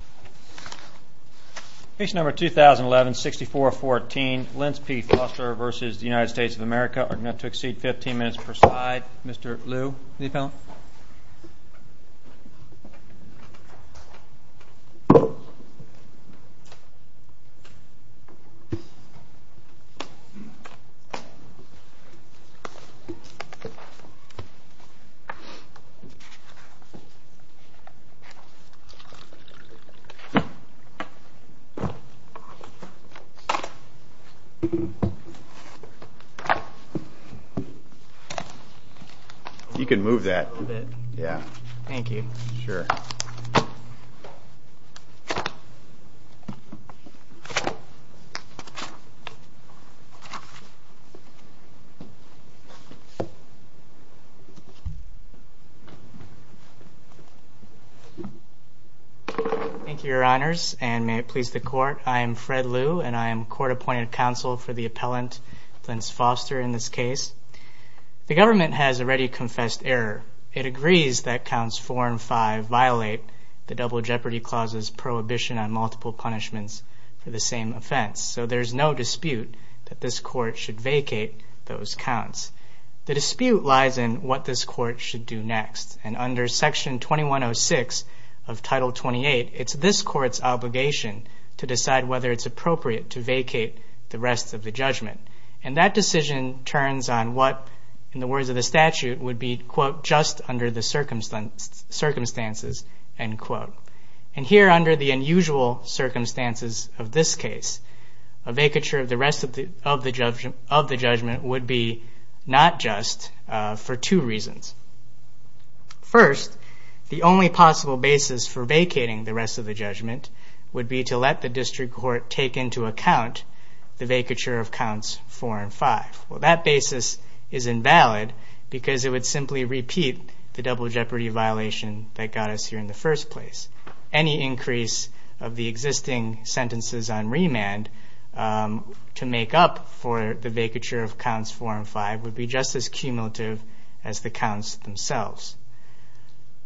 of America are going to exceed 15 minutes per slide. Mr. Liu, the appellant. You can move that a little bit. Yeah. Thank you. Sure. Thank you, your honors, and may it please the court. I am Fred Liu, and I am court-appointed counsel for the appellant, Lance Foster, in this case. The government has already confessed error. It agrees that Counts 4 and 5 violate the Double Jeopardy Clause's prohibition on multiple punishments for the same offense. So there's no dispute that this court should vacate those counts. The dispute lies in what this court should do next, and under Section 2106 of Title 28, it's this court's obligation to decide whether it's appropriate to vacate the rest of the judgment. And that decision turns on what, in the words of the statute, would be, quote, just under the circumstances, end quote. And here, under the unusual circumstances of this case, a vacature of the rest of the judgment would be not just for two reasons. First, the only possible basis for vacating the rest of the judgment would be to let the district court take into account the vacature of Counts 4 and 5. Well, that basis is invalid because it would simply repeat the double jeopardy violation that got us here in the first place. Any increase of the existing sentences on remand to make up for the vacature of Counts 4 and 5 would be just as cumulative as the counts themselves.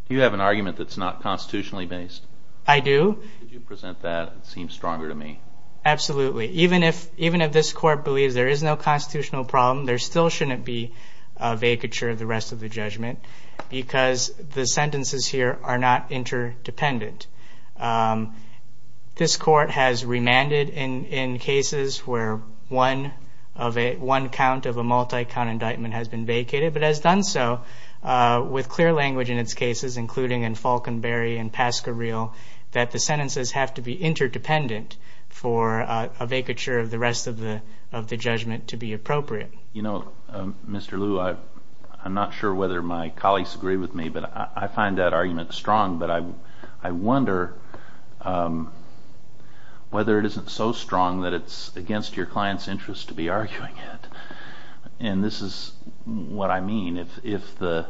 You have an argument that's not constitutionally based. I do. Could you present that? It seems stronger to me. Absolutely. Even if this court believes there is no constitutional problem, there still shouldn't be a vacature of the rest of the judgment because the sentences here are not interdependent. This court has remanded in cases where one count of a multi-count indictment has been vacated, but has done so with clear language in its cases, including in Falconbury and Pasquareel, that the sentences have to be interdependent for a vacature of the rest of the judgment to be appropriate. You know, Mr. Lew, I'm not sure whether my colleagues agree with me, but I find that argument strong, but I wonder whether it isn't so strong that it's against your client's interest to be arguing it. And this is what I mean. If the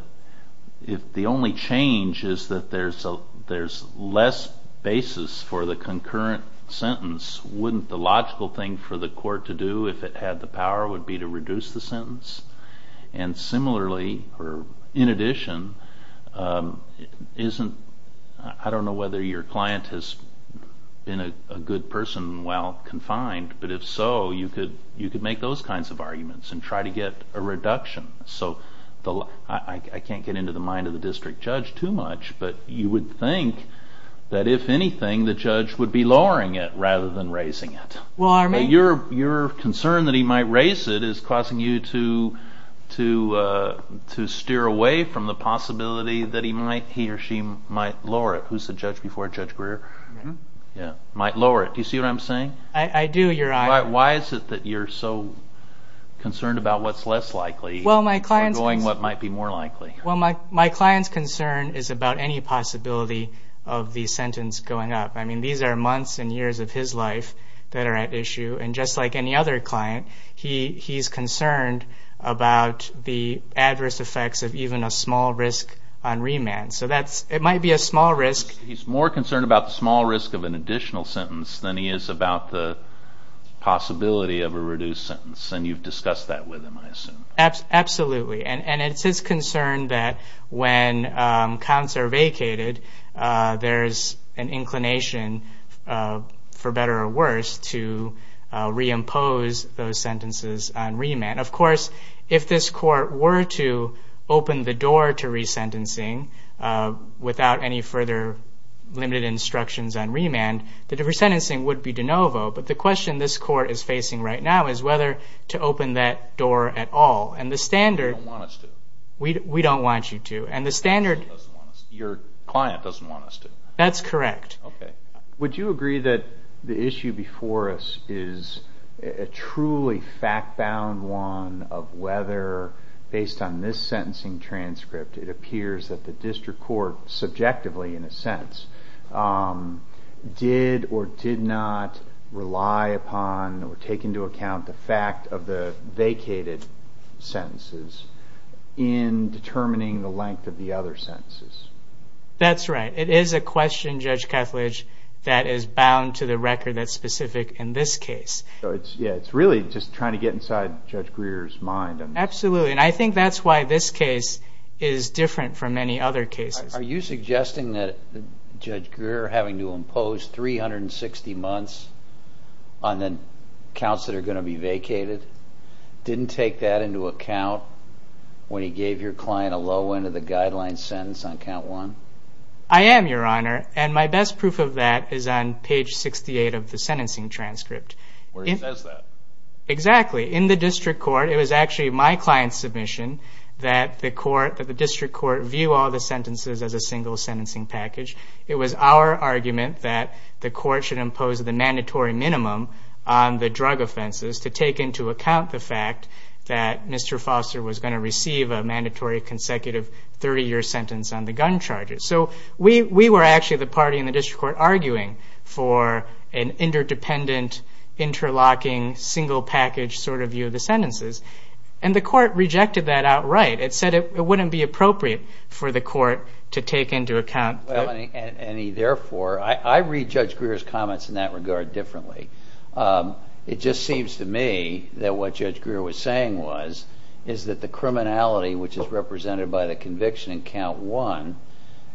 only change is that there's less basis for the concurrent sentence, wouldn't the logical thing for the court to do if it had the power would be to reduce the sentence? And similarly, or in addition, I don't know whether your client has been a good person while confined, but if so, you could make those kinds of arguments and try to get a reduction. So I can't get into the mind of the district judge too much, but you would think that if anything, the judge would be might raise it is causing you to steer away from the possibility that he or she might lower it. Who's the judge before, Judge Greer? Might lower it. Do you see what I'm saying? I do, Your Honor. Why is it that you're so concerned about what's less likely or going what might be more likely? My client's concern is about any possibility of the sentence going up. I mean, these are He's concerned about the adverse effects of even a small risk on remand. So that's, it might be a small risk. He's more concerned about the small risk of an additional sentence than he is about the possibility of a reduced sentence. And you've discussed that with him, I assume. Absolutely. And it's his concern that when counts are vacated, there's an inclination, for better or worse, to reimpose those sentences on remand. Of course, if this court were to open the door to resentencing without any further limited instructions on remand, the resentencing would be de novo. But the question this court is facing right now is whether to open that door at all. And the standard... We don't want us to. We don't want you to. And the standard... Your client doesn't want us to. That's correct. Would you agree that the issue before us is a truly fact-bound one of whether, based on this sentencing transcript, it appears that the district court subjectively, in a sense, did or did not rely upon or take into account the fact of the vacated sentences in determining the length of the other sentences? That's right. It is a question, Judge Kethledge, that is bound to the record that's specific in this case. So it's really just trying to get inside Judge Greer's mind. Absolutely. And I think that's why this case is different from many other cases. Are you suggesting that Judge Greer, having to impose 360 months on the counts that are going to be vacated, didn't take that into account when he gave your client a low end of the guideline sentence on count one? I am, Your Honor. And my best proof of that is on page 68 of the sentencing transcript. Where he says that. Exactly. In the district court, it was actually my client's submission that the court, that the district court, view all the sentences as a single sentencing package. It was our argument that the court should impose the mandatory minimum on the drug offenses to take into account the fact that Mr. Foster was going to receive a mandatory consecutive 30-year sentence on the gun charges. So we were actually, the party in the district court, arguing for an interdependent, interlocking, single package sort of view of the sentences. And the court rejected that outright. It said it wouldn't be appropriate for the court to take into account. Well, and therefore, I read Judge Greer's comments in that regard differently. It just seems to me that what Judge Greer was saying was, is that the criminality which is not one,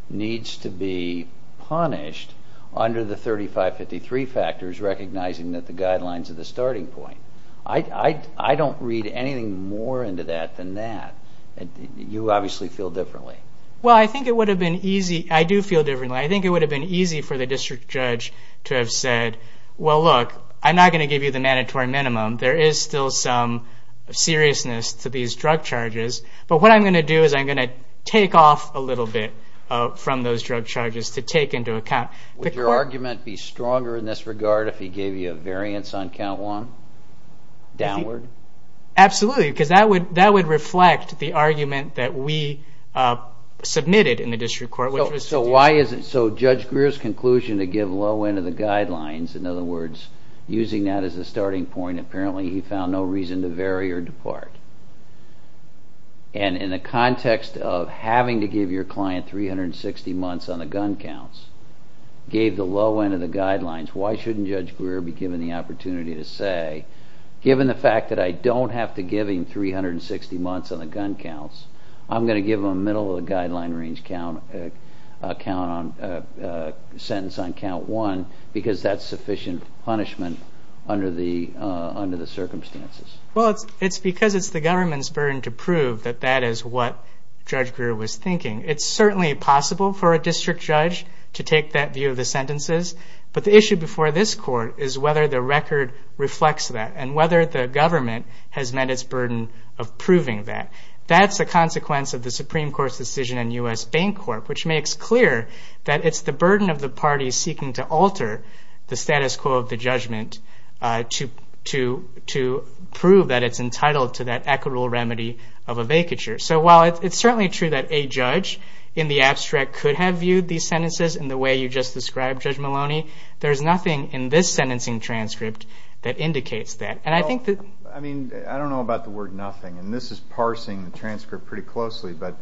needs to be punished under the 3553 factors, recognizing that the guidelines are the starting point. I don't read anything more into that than that. You obviously feel differently. Well, I think it would have been easy, I do feel differently, I think it would have been easy for the district judge to have said, well, look, I'm not going to give you the mandatory minimum. There is still some seriousness to these drug charges. But what I'm going to do is I'm going to take off a little bit from those drug charges to take into account. Would your argument be stronger in this regard if he gave you a variance on count one, downward? Absolutely, because that would reflect the argument that we submitted in the district court. So why is it, so Judge Greer's conclusion to give low end of the guidelines, in other words, using that as a starting point, apparently he found no reason to vary or depart. And in the context of having to give your client 360 months on the gun counts, gave the low end of the guidelines, why shouldn't Judge Greer be given the opportunity to say, given the fact that I don't have to give him 360 months on the gun counts, I'm going to give him a middle of the guideline range count, sentence on count one, because that's sufficient punishment under the circumstances? Well, it's because it's the government's burden to prove that that is what Judge Greer was thinking. It's certainly possible for a district judge to take that view of the sentences, but the issue before this court is whether the record reflects that and whether the government has met its burden of proving that. That's a consequence of the Supreme Court's decision in U.S. Bancorp, which makes clear that it's the burden of the parties seeking to alter the status quo of the judgment to prove that it's entitled to that equitable remedy of a vacature. So while it's certainly true that a judge in the abstract could have viewed these sentences in the way you just described, Judge Maloney, there's nothing in this sentencing transcript that indicates that. I don't know about the word nothing, and this is parsing the transcript pretty closely, but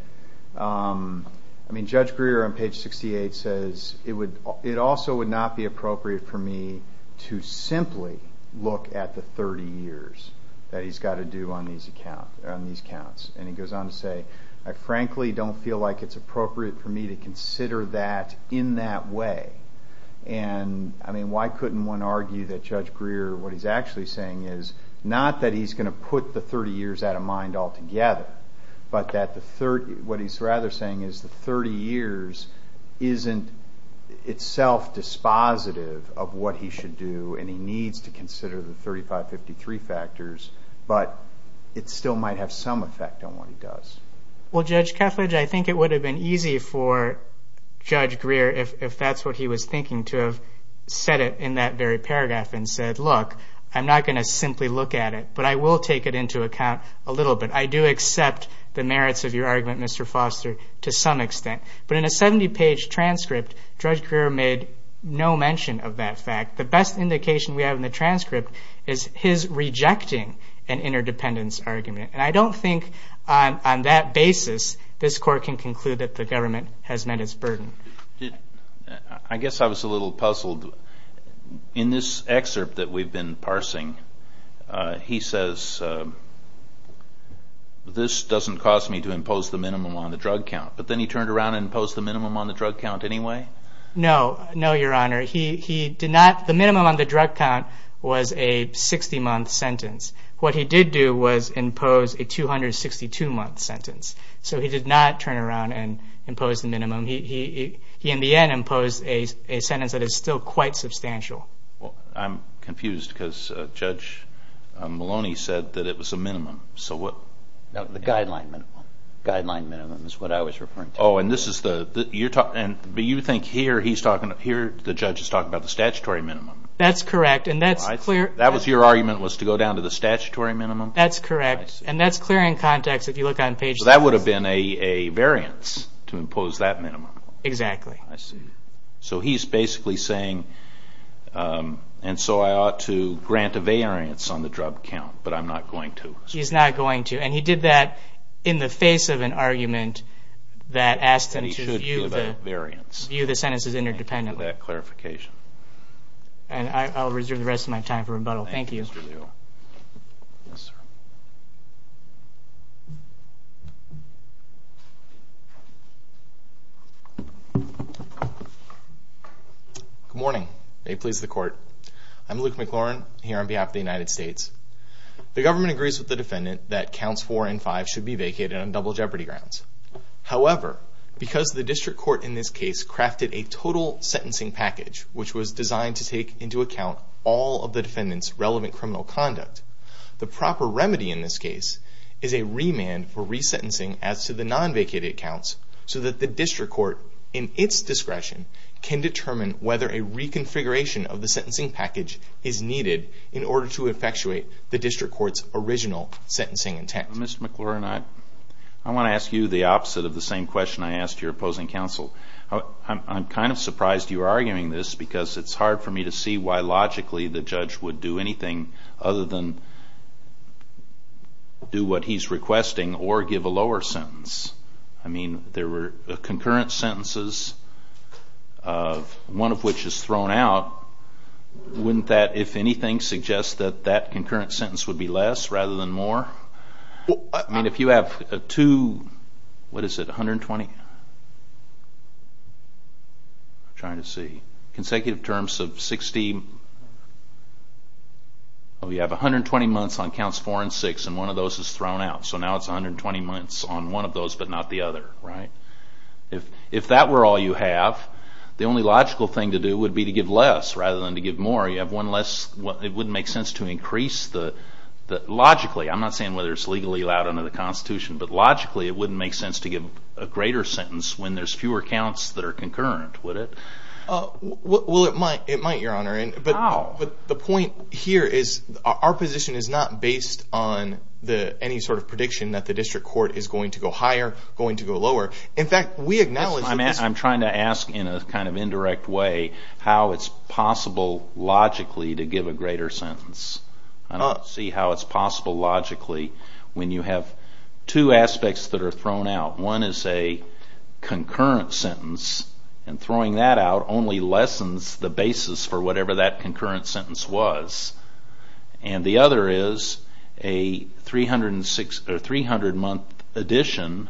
Judge Greer on page 68 says, It also would not be appropriate for me to simply look at the 30 years that he's got to do on these counts. And he goes on to say, I frankly don't feel like it's appropriate for me to consider that in that way. And why couldn't one argue that Judge Greer, what he's actually saying is, not that he's going to put the 30 years out of mind altogether, but that what he's rather saying is the 30 years isn't itself dispositive of what he should do, and he needs to consider the 3553 factors, but it still might have some effect on what he does. Well, Judge Kethledge, I think it would have been easy for Judge Greer, if that's what he was thinking, to have said it in that very paragraph and said, Look, I'm not going to simply look at it, but I will take it into account a little bit. I do accept the merits of your argument, Mr. Foster, to some extent. But in a 70-page transcript, Judge Greer made no mention of that fact. The best indication we have in the transcript is his rejecting an interdependence argument. And I don't think on that basis this Court can conclude that the government has met its burden. I guess I was a little puzzled. In this excerpt that we've been parsing, he says, This doesn't cause me to impose the minimum on the drug count. But then he turned around and imposed the minimum on the drug count anyway? No, no, Your Honor. The minimum on the drug count was a 60-month sentence. What he did do was impose a 262-month sentence. So he did not turn around and impose the minimum. He, in the end, imposed a sentence that is still quite substantial. I'm confused because Judge Maloney said that it was a minimum. No, the guideline minimum is what I was referring to. Oh, and you think here the judge is talking about the statutory minimum? That's correct. That was your argument, was to go down to the statutory minimum? That's correct. And that's clear in context if you look on page 6. Because that would have been a variance to impose that minimum. Exactly. I see. So he's basically saying, And so I ought to grant a variance on the drug count, but I'm not going to. He's not going to. And he did that in the face of an argument that asked him to view the sentences interdependently. Thank you for that clarification. And I'll reserve the rest of my time for rebuttal. Thank you. Thank you, Mr. Leal. Good morning. May it please the Court. I'm Luke McLaurin, here on behalf of the United States. The government agrees with the defendant that counts 4 and 5 should be vacated on double jeopardy grounds. However, because the district court in this case crafted a total sentencing package, which was designed to take into account all of the defendant's relevant criminal conduct, the proper remedy in this case is a remand for resentencing as to the non-vacated counts so that the district court, in its discretion, can determine whether a reconfiguration of the sentencing package is needed in order to effectuate the district court's original sentencing intent. Mr. McLaurin, I want to ask you the opposite of the same question I asked your opposing counsel. I'm kind of surprised you're arguing this, because it's hard for me to see why logically the judge would do anything other than do what he's requesting or give a lower sentence. I mean, there were concurrent sentences, one of which is thrown out. Wouldn't that, if anything, suggest that that concurrent sentence would be less rather than more? I mean, if you have two, what is it, 120? I'm trying to see. Consecutive terms of 60, you have 120 months on counts 4 and 6, and one of those is thrown out. So now it's 120 months on one of those but not the other, right? If that were all you have, the only logical thing to do would be to give less rather than to give more. It wouldn't make sense to increase the, logically, I'm not saying whether it's legally allowed under the Constitution, but logically it wouldn't make sense to give a greater sentence when there's fewer counts that are concurrent, would it? Well, it might, Your Honor. But the point here is our position is not based on any sort of prediction that the district court is going to go higher, going to go lower. In fact, we acknowledge that this is... I'm trying to ask in a kind of indirect way how it's possible logically to give a greater sentence. I don't see how it's possible logically when you have two aspects that are thrown out. One is a concurrent sentence, and throwing that out only lessens the basis for whatever that concurrent sentence was. And the other is a 300-month addition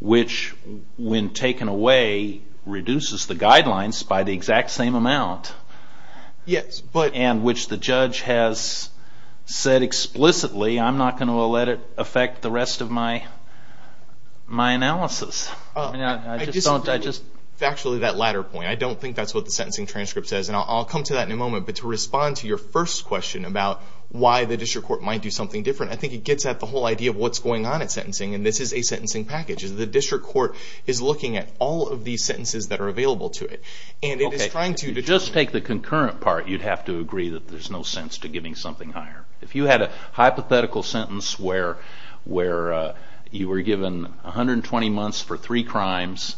which, when taken away, reduces the guidelines by the exact same amount. Yes, but... And which the judge has said explicitly, I'm not going to let it affect the rest of my analysis. It's actually that latter point. I don't think that's what the sentencing transcript says, and I'll come to that in a moment. But to respond to your first question about why the district court might do something different, I think it gets at the whole idea of what's going on at sentencing, and this is a sentencing package. The district court is looking at all of these sentences that are available to it. To just take the concurrent part, you'd have to agree that there's no sense to giving something higher. If you had a hypothetical sentence where you were given 120 months for three crimes,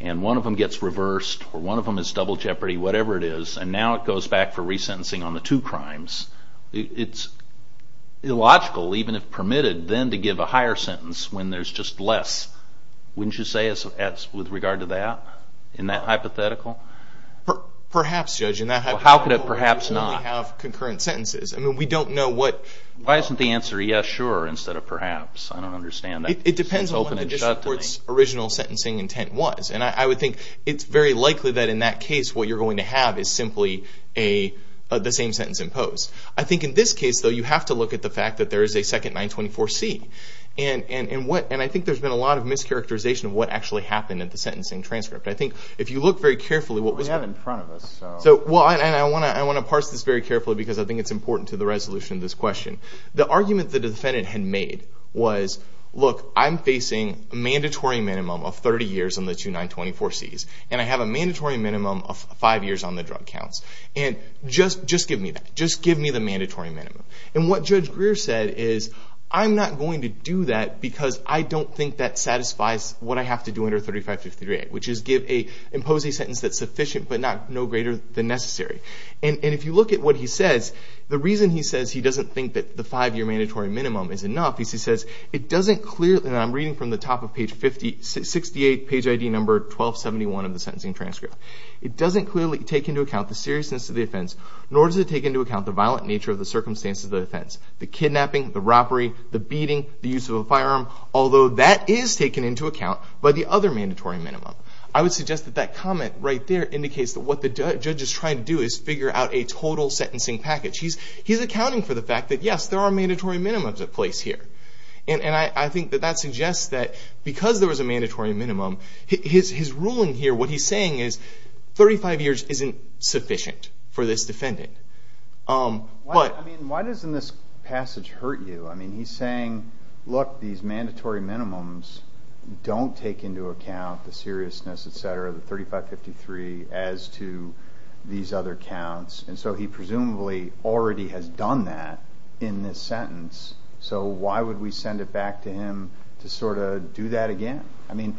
and one of them gets reversed, or one of them is double jeopardy, whatever it is, and now it goes back for resentencing on the two crimes, it's illogical, even if permitted, then to give a higher sentence when there's just less. Wouldn't you say it's with regard to that, in that hypothetical? Perhaps, Judge. How could it perhaps not? We have concurrent sentences. I mean, we don't know what. Why isn't the answer yes, sure, instead of perhaps? I don't understand that. It depends on what the district court's original sentencing intent was, and I would think it's very likely that in that case what you're going to have is simply the same sentence imposed. I think in this case, though, you have to look at the fact that there is a second 924C, and I think there's been a lot of mischaracterization of what actually happened at the sentencing transcript. I think if you look very carefully what was going on. We have it in front of us. I want to parse this very carefully because I think it's important to the resolution of this question. The argument the defendant had made was, look, I'm facing a mandatory minimum of 30 years on the two 924Cs, and I have a mandatory minimum of five years on the drug counts, and just give me that. Just give me the mandatory minimum. And what Judge Greer said is, I'm not going to do that because I don't think that satisfies what I have to do under 3553A, which is impose a sentence that's sufficient but no greater than necessary. And if you look at what he says, the reason he says he doesn't think that the five-year mandatory minimum is enough is he says, it doesn't clear that I'm reading from the top of page 68, page ID number 1271 of the sentencing transcript. It doesn't clearly take into account the seriousness of the offense, nor does it take into account the violent nature of the circumstances of the offense, the kidnapping, the robbery, the beating, the use of a firearm, although that is taken into account by the other mandatory minimum. I would suggest that that comment right there indicates that what the judge is trying to do is figure out a total sentencing package. He's accounting for the fact that, yes, there are mandatory minimums in place here. And I think that that suggests that because there was a mandatory minimum, his ruling here, what he's saying is 35 years isn't sufficient for this defendant. Why doesn't this passage hurt you? I mean, he's saying, look, these mandatory minimums don't take into account the seriousness, et cetera, the 3553 as to these other counts. And so he presumably already has done that in this sentence. So why would we send it back to him to sort of do that again? I mean,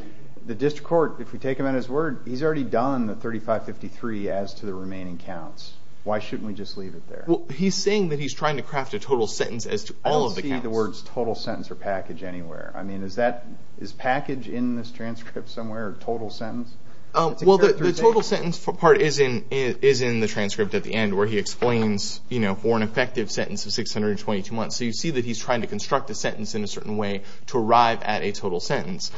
the district court, if we take him at his word, he's already done the 3553 as to the remaining counts. Why shouldn't we just leave it there? Well, he's saying that he's trying to craft a total sentence as to all of the counts. I don't see the words total sentence or package anywhere. I mean, is package in this transcript somewhere or total sentence? Well, the total sentence part is in the transcript at the end where he explains, you know, for an effective sentence of 622 months. So you see that he's trying to construct a sentence in a certain way to arrive at a total sentence.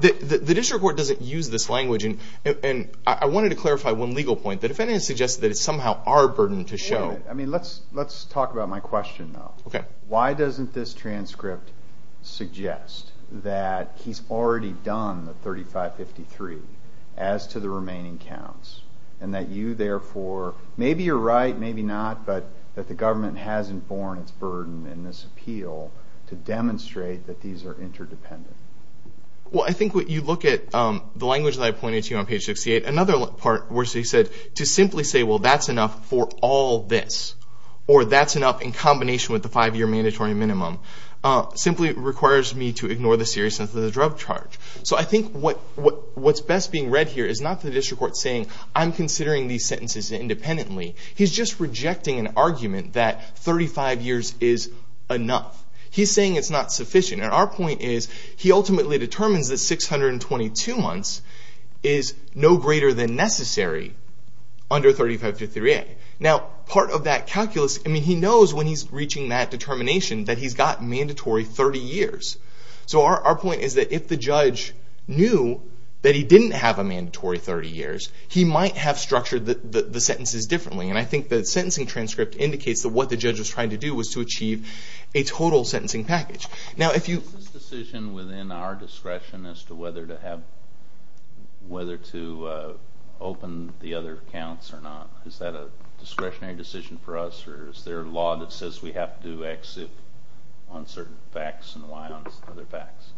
The district court doesn't use this language. And I wanted to clarify one legal point. The defendant suggested that it's somehow our burden to show. I mean, let's talk about my question, though. Okay. Why doesn't this transcript suggest that he's already done the 3553 as to the remaining counts and that you, therefore, maybe you're right, maybe not, but that the government hasn't borne its burden in this appeal to demonstrate that these are interdependent? Well, I think when you look at the language that I pointed to on page 68, another part where he said to simply say, well, that's enough for all this, or that's enough in combination with the five-year mandatory minimum, simply requires me to ignore the seriousness of the drug charge. So I think what's best being read here is not the district court saying, I'm considering these sentences independently. He's just rejecting an argument that 35 years is enough. He's saying it's not sufficient. And our point is he ultimately determines that 622 months is no greater than necessary under 3553A. Now, part of that calculus, I mean, he knows when he's reaching that determination that he's got mandatory 30 years. So our point is that if the judge knew that he didn't have a mandatory 30 years, he might have structured the sentences differently. And I think the sentencing transcript indicates that what the judge was trying to do was to achieve a total sentencing package. Is this decision within our discretion as to whether to open the other counts or not? Is that a discretionary decision for us, or is there a law that says we have to do X on certain facts and Y on other facts?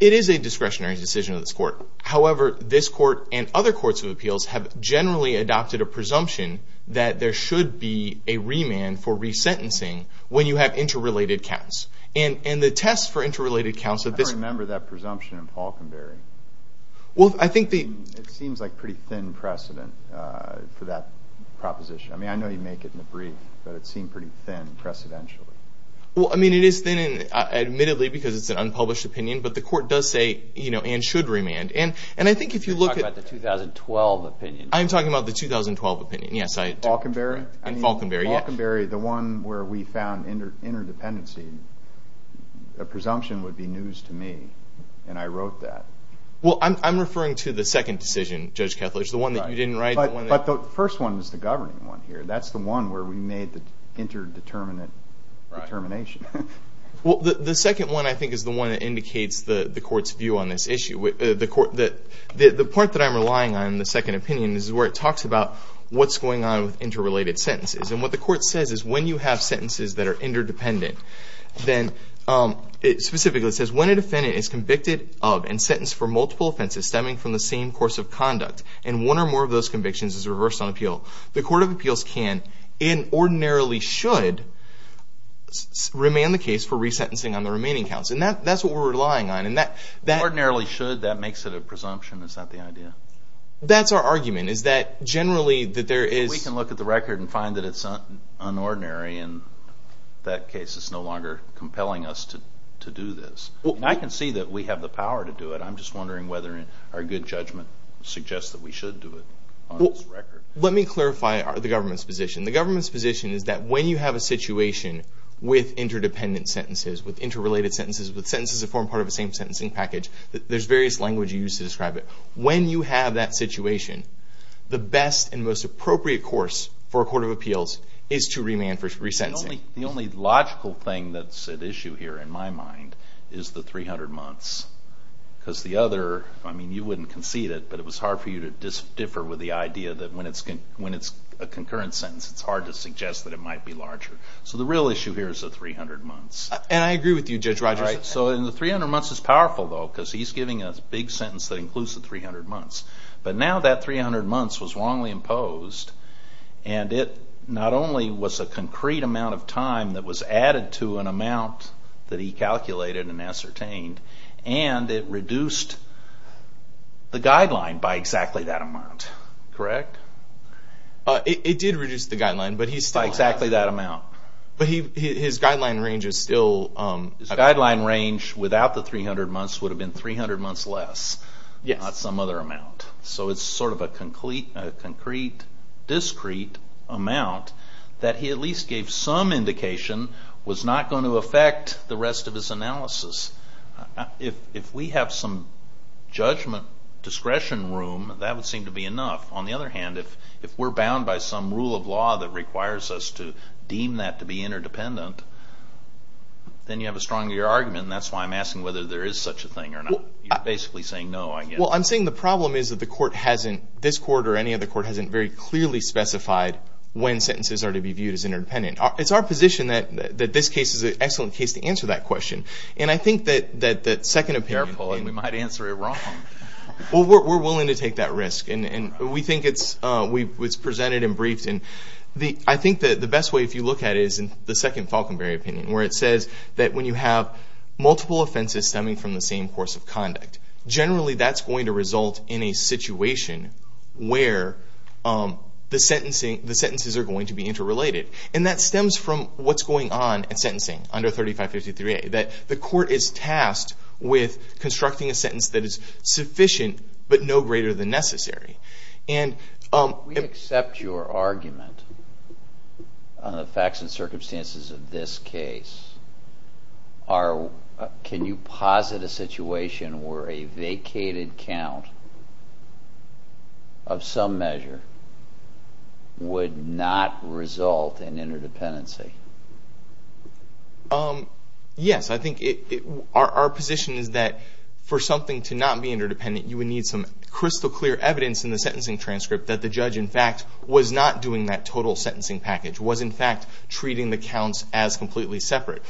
It is a discretionary decision of this court. However, this court and other courts of appeals have generally adopted a presumption that there should be a remand for resentencing when you have interrelated counts. And the test for interrelated counts of this— I don't remember that presumption in Falkenberry. Well, I think the— It seems like pretty thin precedent for that proposition. I mean, I know you make it in the brief, but it seemed pretty thin precedentially. Well, I mean, it is thin admittedly because it's an unpublished opinion, but the court does say and should remand. And I think if you look at— You're talking about the 2012 opinion. I'm talking about the 2012 opinion, yes. Falkenberry? Falkenberry, yes. Falkenberry, the one where we found interdependency, a presumption would be news to me, and I wrote that. Well, I'm referring to the second decision, Judge Kethledge, the one that you didn't write. But the first one is the governing one here. That's the one where we made the interdeterminant determination. Well, the second one, I think, is the one that indicates the court's view on this issue. The part that I'm relying on in the second opinion is where it talks about what's going on with interrelated sentences. And what the court says is when you have sentences that are interdependent, then it specifically says, when a defendant is convicted of and sentenced for multiple offenses stemming from the same course of conduct and one or more of those convictions is reversed on appeal, the court of appeals can and ordinarily should remain the case for resentencing on the remaining counts. And that's what we're relying on. Ordinarily should, that makes it a presumption. Is that the idea? That's our argument, is that generally that there is... We can look at the record and find that it's unordinary, and that case is no longer compelling us to do this. And I can see that we have the power to do it. I'm just wondering whether our good judgment suggests that we should do it on this record. Let me clarify the government's position. The government's position is that when you have a situation with interdependent sentences, with interrelated sentences, with sentences that form part of the same sentencing package, there's various languages used to describe it. When you have that situation, the best and most appropriate course for a court of appeals is to remain for resentencing. The only logical thing that's at issue here in my mind is the 300 months. Because the other, I mean, you wouldn't concede it, but it was hard for you to differ with the idea that when it's a concurrent sentence, it's hard to suggest that it might be larger. So the real issue here is the 300 months. And I agree with you, Judge Rogers. So the 300 months is powerful, though, because he's giving a big sentence that includes the 300 months. But now that 300 months was wrongly imposed, and it not only was a concrete amount of time that was added to an amount that he calculated and ascertained, and it reduced the guideline by exactly that amount. Correct? It did reduce the guideline, but he's still... By exactly that amount. But his guideline range is still... His guideline range without the 300 months would have been 300 months less. Yes. Not some other amount. So it's sort of a concrete, discrete amount that he at least gave some indication was not going to affect the rest of his analysis. If we have some judgment discretion room, that would seem to be enough. On the other hand, if we're bound by some rule of law that requires us to deem that to be interdependent, then you have a stronger argument, and that's why I'm asking whether there is such a thing or not. You're basically saying no, I guess. Well, I'm saying the problem is that the court hasn't, this court or any other court hasn't very clearly specified when sentences are to be viewed as interdependent. It's our position that this case is an excellent case to answer that question. And I think that the second opinion... Careful, and we might answer it wrong. Well, we're willing to take that risk. And we think it's presented and briefed. And I think that the best way, if you look at it, is the second Falkenberry opinion, where it says that when you have multiple offenses stemming from the same course of conduct, generally that's going to result in a situation where the sentences are going to be interrelated. And that stems from what's going on in sentencing under 3553A, that the court is tasked with constructing a sentence that is sufficient but no greater than necessary. And... We accept your argument on the facts and circumstances of this case. Can you posit a situation where a vacated count of some measure would not result in interdependency? Yes. I think our position is that for something to not be interdependent, you would need some crystal clear evidence in the sentencing transcript that the judge, in fact, was not doing that total sentencing package, was, in fact, treating the counts as completely separate.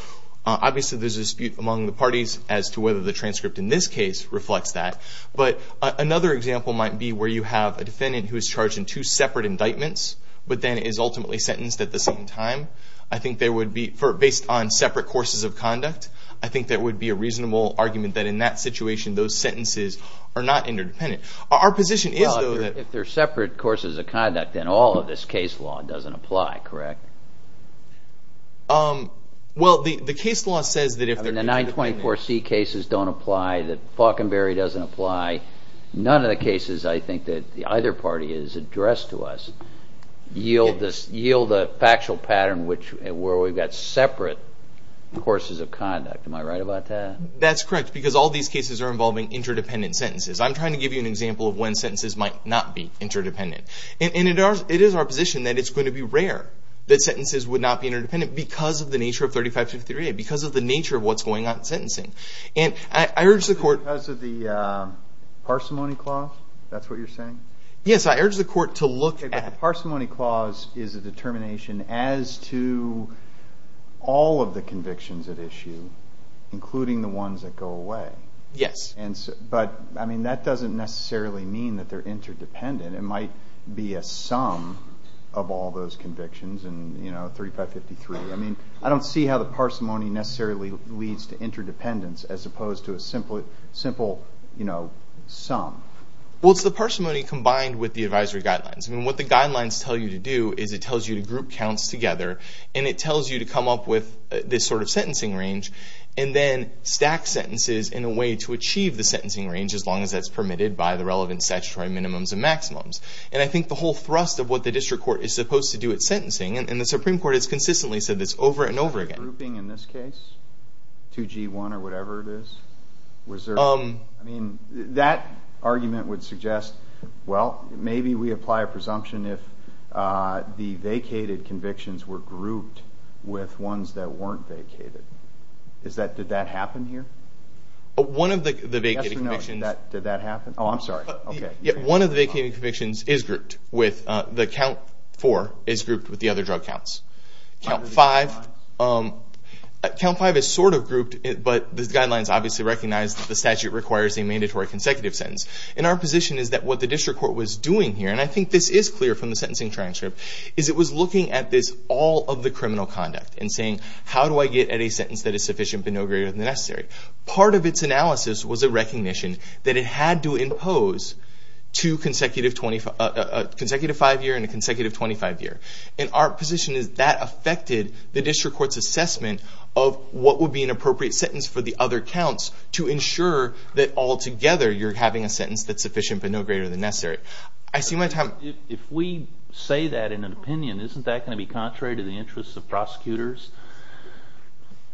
Obviously, there's a dispute among the parties as to whether the transcript in this case reflects that. But another example might be where you have a defendant who is charged in two separate indictments but then is ultimately sentenced at the same time. I think there would be, based on separate courses of conduct, I think there would be a reasonable argument that in that situation those sentences are not interdependent. Our position is, though, that... Well, if they're separate courses of conduct, then all of this case law doesn't apply, correct? Well, the case law says that if... And the 924C cases don't apply, that Faulconberry doesn't apply. None of the cases, I think, that either party has addressed to us yield a factual pattern where we've got separate courses of conduct. Am I right about that? That's correct, because all these cases are involving interdependent sentences. I'm trying to give you an example of when sentences might not be interdependent. And it is our position that it's going to be rare that sentences would not be interdependent because of the nature of 3553A, because of the nature of what's going on in sentencing. And I urge the court... Because of the parsimony clause? That's what you're saying? Yes, I urge the court to look at... Okay, but the parsimony clause is a determination as to all of the convictions at issue, including the ones that go away. Yes. But, I mean, that doesn't necessarily mean that they're interdependent. It might be a sum of all those convictions and, you know, 3553. I mean, I don't see how the parsimony necessarily leads to interdependence as opposed to a simple, you know, sum. Well, it's the parsimony combined with the advisory guidelines. I mean, what the guidelines tell you to do is it tells you to group counts together and it tells you to come up with this sort of sentencing range and then stack sentences in a way to achieve the sentencing range as long as that's permitted by the relevant statutory minimums and maximums. And I think the whole thrust of what the district court is supposed to do at sentencing and the Supreme Court has consistently said this over and over again. Grouping in this case, 2G1 or whatever it is, was there... I mean, that argument would suggest, well, maybe we apply a presumption if the vacated convictions were grouped with ones that weren't vacated. Did that happen here? One of the vacated convictions... Yes or no, did that happen? Oh, I'm sorry. Okay. One of the vacated convictions is grouped with... Count 4 is grouped with the other drug counts. Count 5... Count 5 is sort of grouped, but the guidelines obviously recognize that the statute requires a mandatory consecutive sentence. And our position is that what the district court was doing here, and I think this is clear from the sentencing transcript, is it was looking at this all of the criminal conduct and saying, how do I get at a sentence that is sufficient but no greater than necessary? Part of its analysis was a recognition that it had to impose two consecutive five-year and a consecutive 25-year. And our position is that affected the district court's assessment of what would be an appropriate sentence for the other counts to ensure that altogether you're having a sentence that's sufficient but no greater than necessary. I see my time... If we say that in an opinion, isn't that going to be contrary to the interests of prosecutors?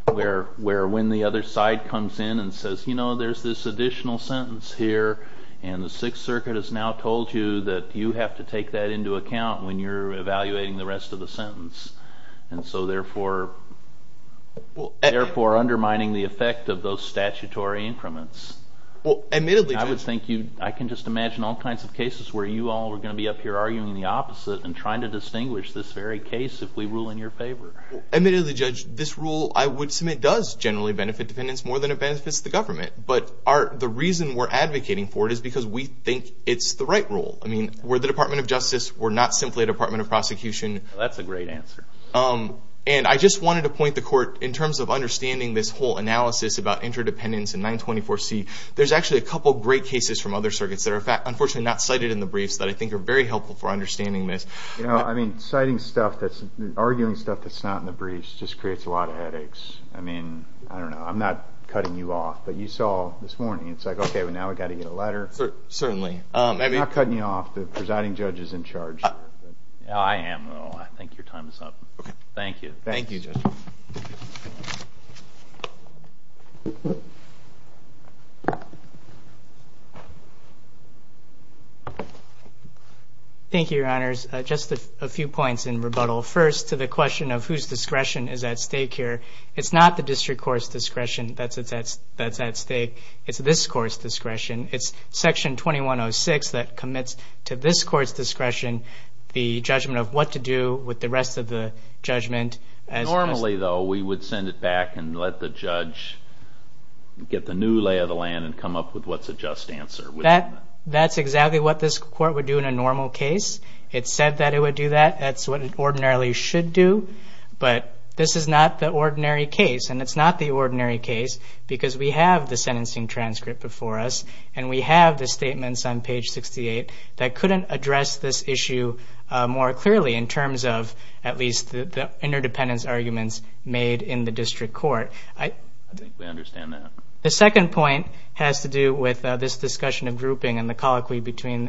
Where when the other side comes in and says, you know, there's this additional sentence here, and the Sixth Circuit has now told you that you have to take that into account when you're evaluating the rest of the sentence, and so therefore undermining the effect of those statutory increments. Well, admittedly, Judge... I can just imagine all kinds of cases where you all are going to be up here arguing the opposite and trying to distinguish this very case if we rule in your favor. Admittedly, Judge, this rule I would submit does generally benefit interdependence more than it benefits the government. But the reason we're advocating for it is because we think it's the right rule. I mean, we're the Department of Justice. We're not simply a Department of Prosecution. That's a great answer. And I just wanted to point the court, in terms of understanding this whole analysis about interdependence and 924C, there's actually a couple of great cases from other circuits that are unfortunately not cited in the briefs that I think are very helpful for understanding this. You know, I mean, citing stuff that's... arguing stuff that's not in the briefs just creates a lot of headaches. I mean, I don't know. I'm not cutting you off, but you saw this morning. It's like, okay, now we've got to get a letter. Certainly. I'm not cutting you off. The presiding judge is in charge. I am, though. I think your time is up. Okay. Thank you. Thank you, Judge. Thank you, Your Honors. Just a few points in rebuttal. First, to the question of whose discretion is at stake here. It's not the district court's discretion that's at stake. It's this court's discretion. It's Section 2106 that commits to this court's discretion the judgment of what to do with the rest of the judgment. Normally, though, we would send it back and let the judge get the new lay of the land and come up with what's a just answer. That's exactly what this court would do in a normal case. It said that it would do that. That's what it ordinarily should do. But this is not the ordinary case. And it's not the ordinary case because we have the sentencing transcript before us and we have the statements on page 68 that couldn't address this issue more clearly in terms of at least the interdependence arguments made in the district court. I think we understand that. The second point has to do with this discussion of grouping and the colloquy between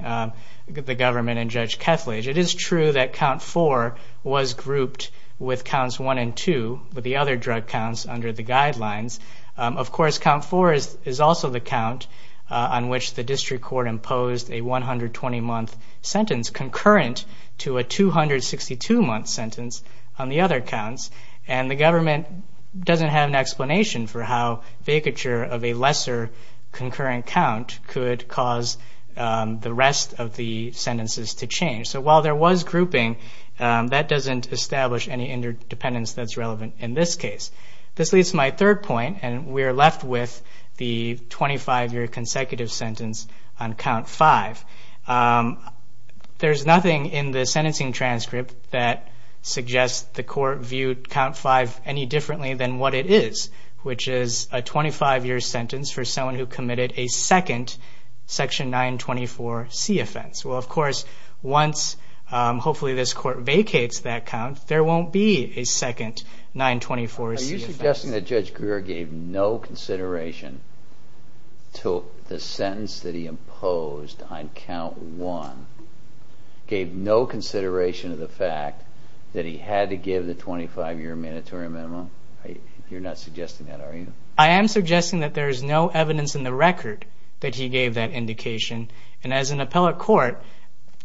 the government and Judge Kethledge. It is true that Count 4 was grouped with Counts 1 and 2, with the other drug counts, under the guidelines. Of course, Count 4 is also the count on which the district court imposed a 120-month sentence concurrent to a 262-month sentence on the other counts. And the government doesn't have an explanation for how vacature of a lesser concurrent count could cause the rest of the sentences to change. So while there was grouping, that doesn't establish any interdependence that's relevant in this case. This leads to my third point, and we're left with the 25-year consecutive sentence on Count 5. There's nothing in the sentencing transcript that suggests the court viewed Count 5 any differently than what it is, which is a 25-year sentence for someone who committed a second Section 924C offense. Well, of course, once, hopefully, this court vacates that count, there won't be a second 924C offense. Are you suggesting that Judge Greer gave no consideration to the sentence that he imposed on Count 1, gave no consideration to the fact that he had to give the 25-year mandatory minimum? You're not suggesting that, are you? I am suggesting that there is no evidence in the record that he gave that indication. And as an appellate court,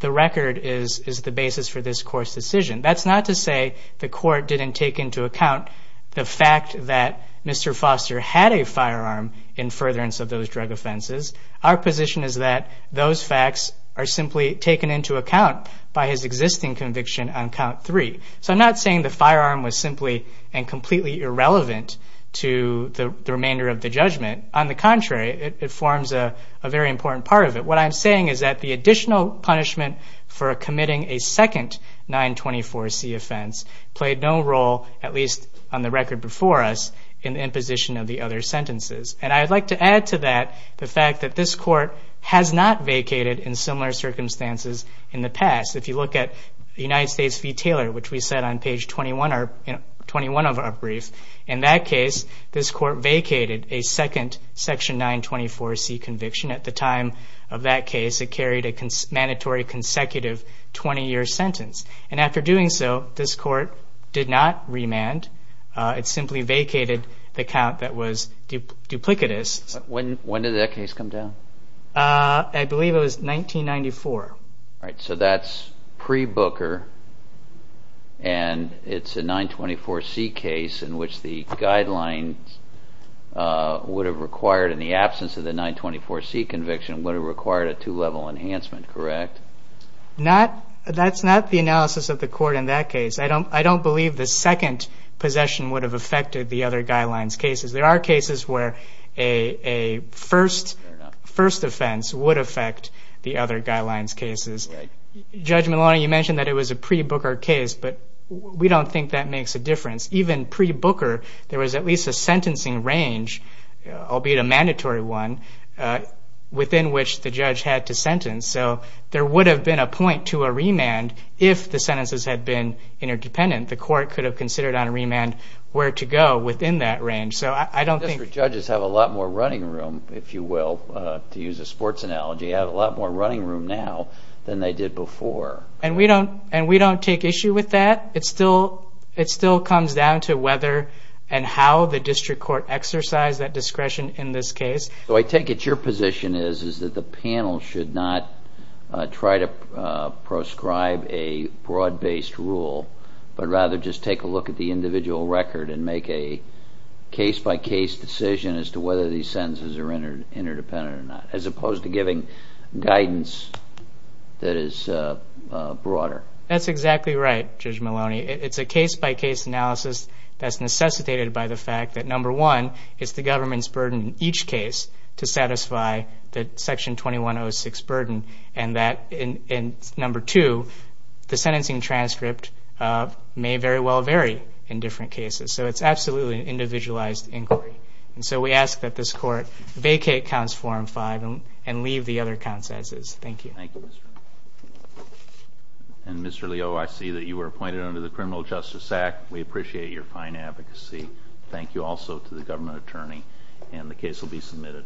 the record is the basis for this court's decision. That's not to say the court didn't take into account the fact that Mr. Foster had a firearm in furtherance of those drug offenses. Our position is that those facts are simply taken into account by his existing conviction on Count 3. So I'm not saying the firearm was simply and completely irrelevant to the remainder of the judgment. On the contrary, it forms a very important part of it. What I'm saying is that the additional punishment for committing a second 924C offense played no role, at least on the record before us, in the imposition of the other sentences. And I'd like to add to that the fact that this court has not vacated in similar circumstances in the past. If you look at United States v. Taylor, which we said on page 21 of our brief, in that case, this court vacated a second section 924C conviction. At the time of that case, it carried a mandatory consecutive 20-year sentence. And after doing so, this court did not remand. It simply vacated the count that was duplicitous. When did that case come down? I believe it was 1994. All right, so that's pre-Booker, and it's a 924C case in which the guidelines would have required, in the absence of the 924C conviction, would have required a two-level enhancement, correct? That's not the analysis of the court in that case. I don't believe the second possession would have affected the other guidelines cases. There are cases where a first offense would affect the other guidelines cases. Judge Maloney, you mentioned that it was a pre-Booker case, but we don't think that makes a difference. Even pre-Booker, there was at least a sentencing range, albeit a mandatory one, within which the judge had to sentence. So there would have been a point to a remand if the sentences had been interdependent. The court could have considered on remand where to go within that range. District judges have a lot more running room, if you will, to use a sports analogy, have a lot more running room now than they did before. And we don't take issue with that. It still comes down to whether and how the district court exercised that discretion in this case. So I take it your position is that the panel should not try to proscribe a broad-based rule, but rather just take a look at the individual record and make a case-by-case decision as to whether these sentences are interdependent or not, as opposed to giving guidance that is broader. That's exactly right, Judge Maloney. It's a case-by-case analysis that's necessitated by the fact that, number one, it's the government's burden in each case to satisfy the Section 2106 burden, and that, number two, the sentencing transcript may very well vary in different cases. So it's absolutely an individualized inquiry. And so we ask that this Court vacate Counts 4 and 5 and leave the other counts as is. Thank you. And, Mr. Leo, I see that you were appointed under the Criminal Justice Act. We appreciate your fine advocacy. Thank you also to the government attorney, and the case will be submitted.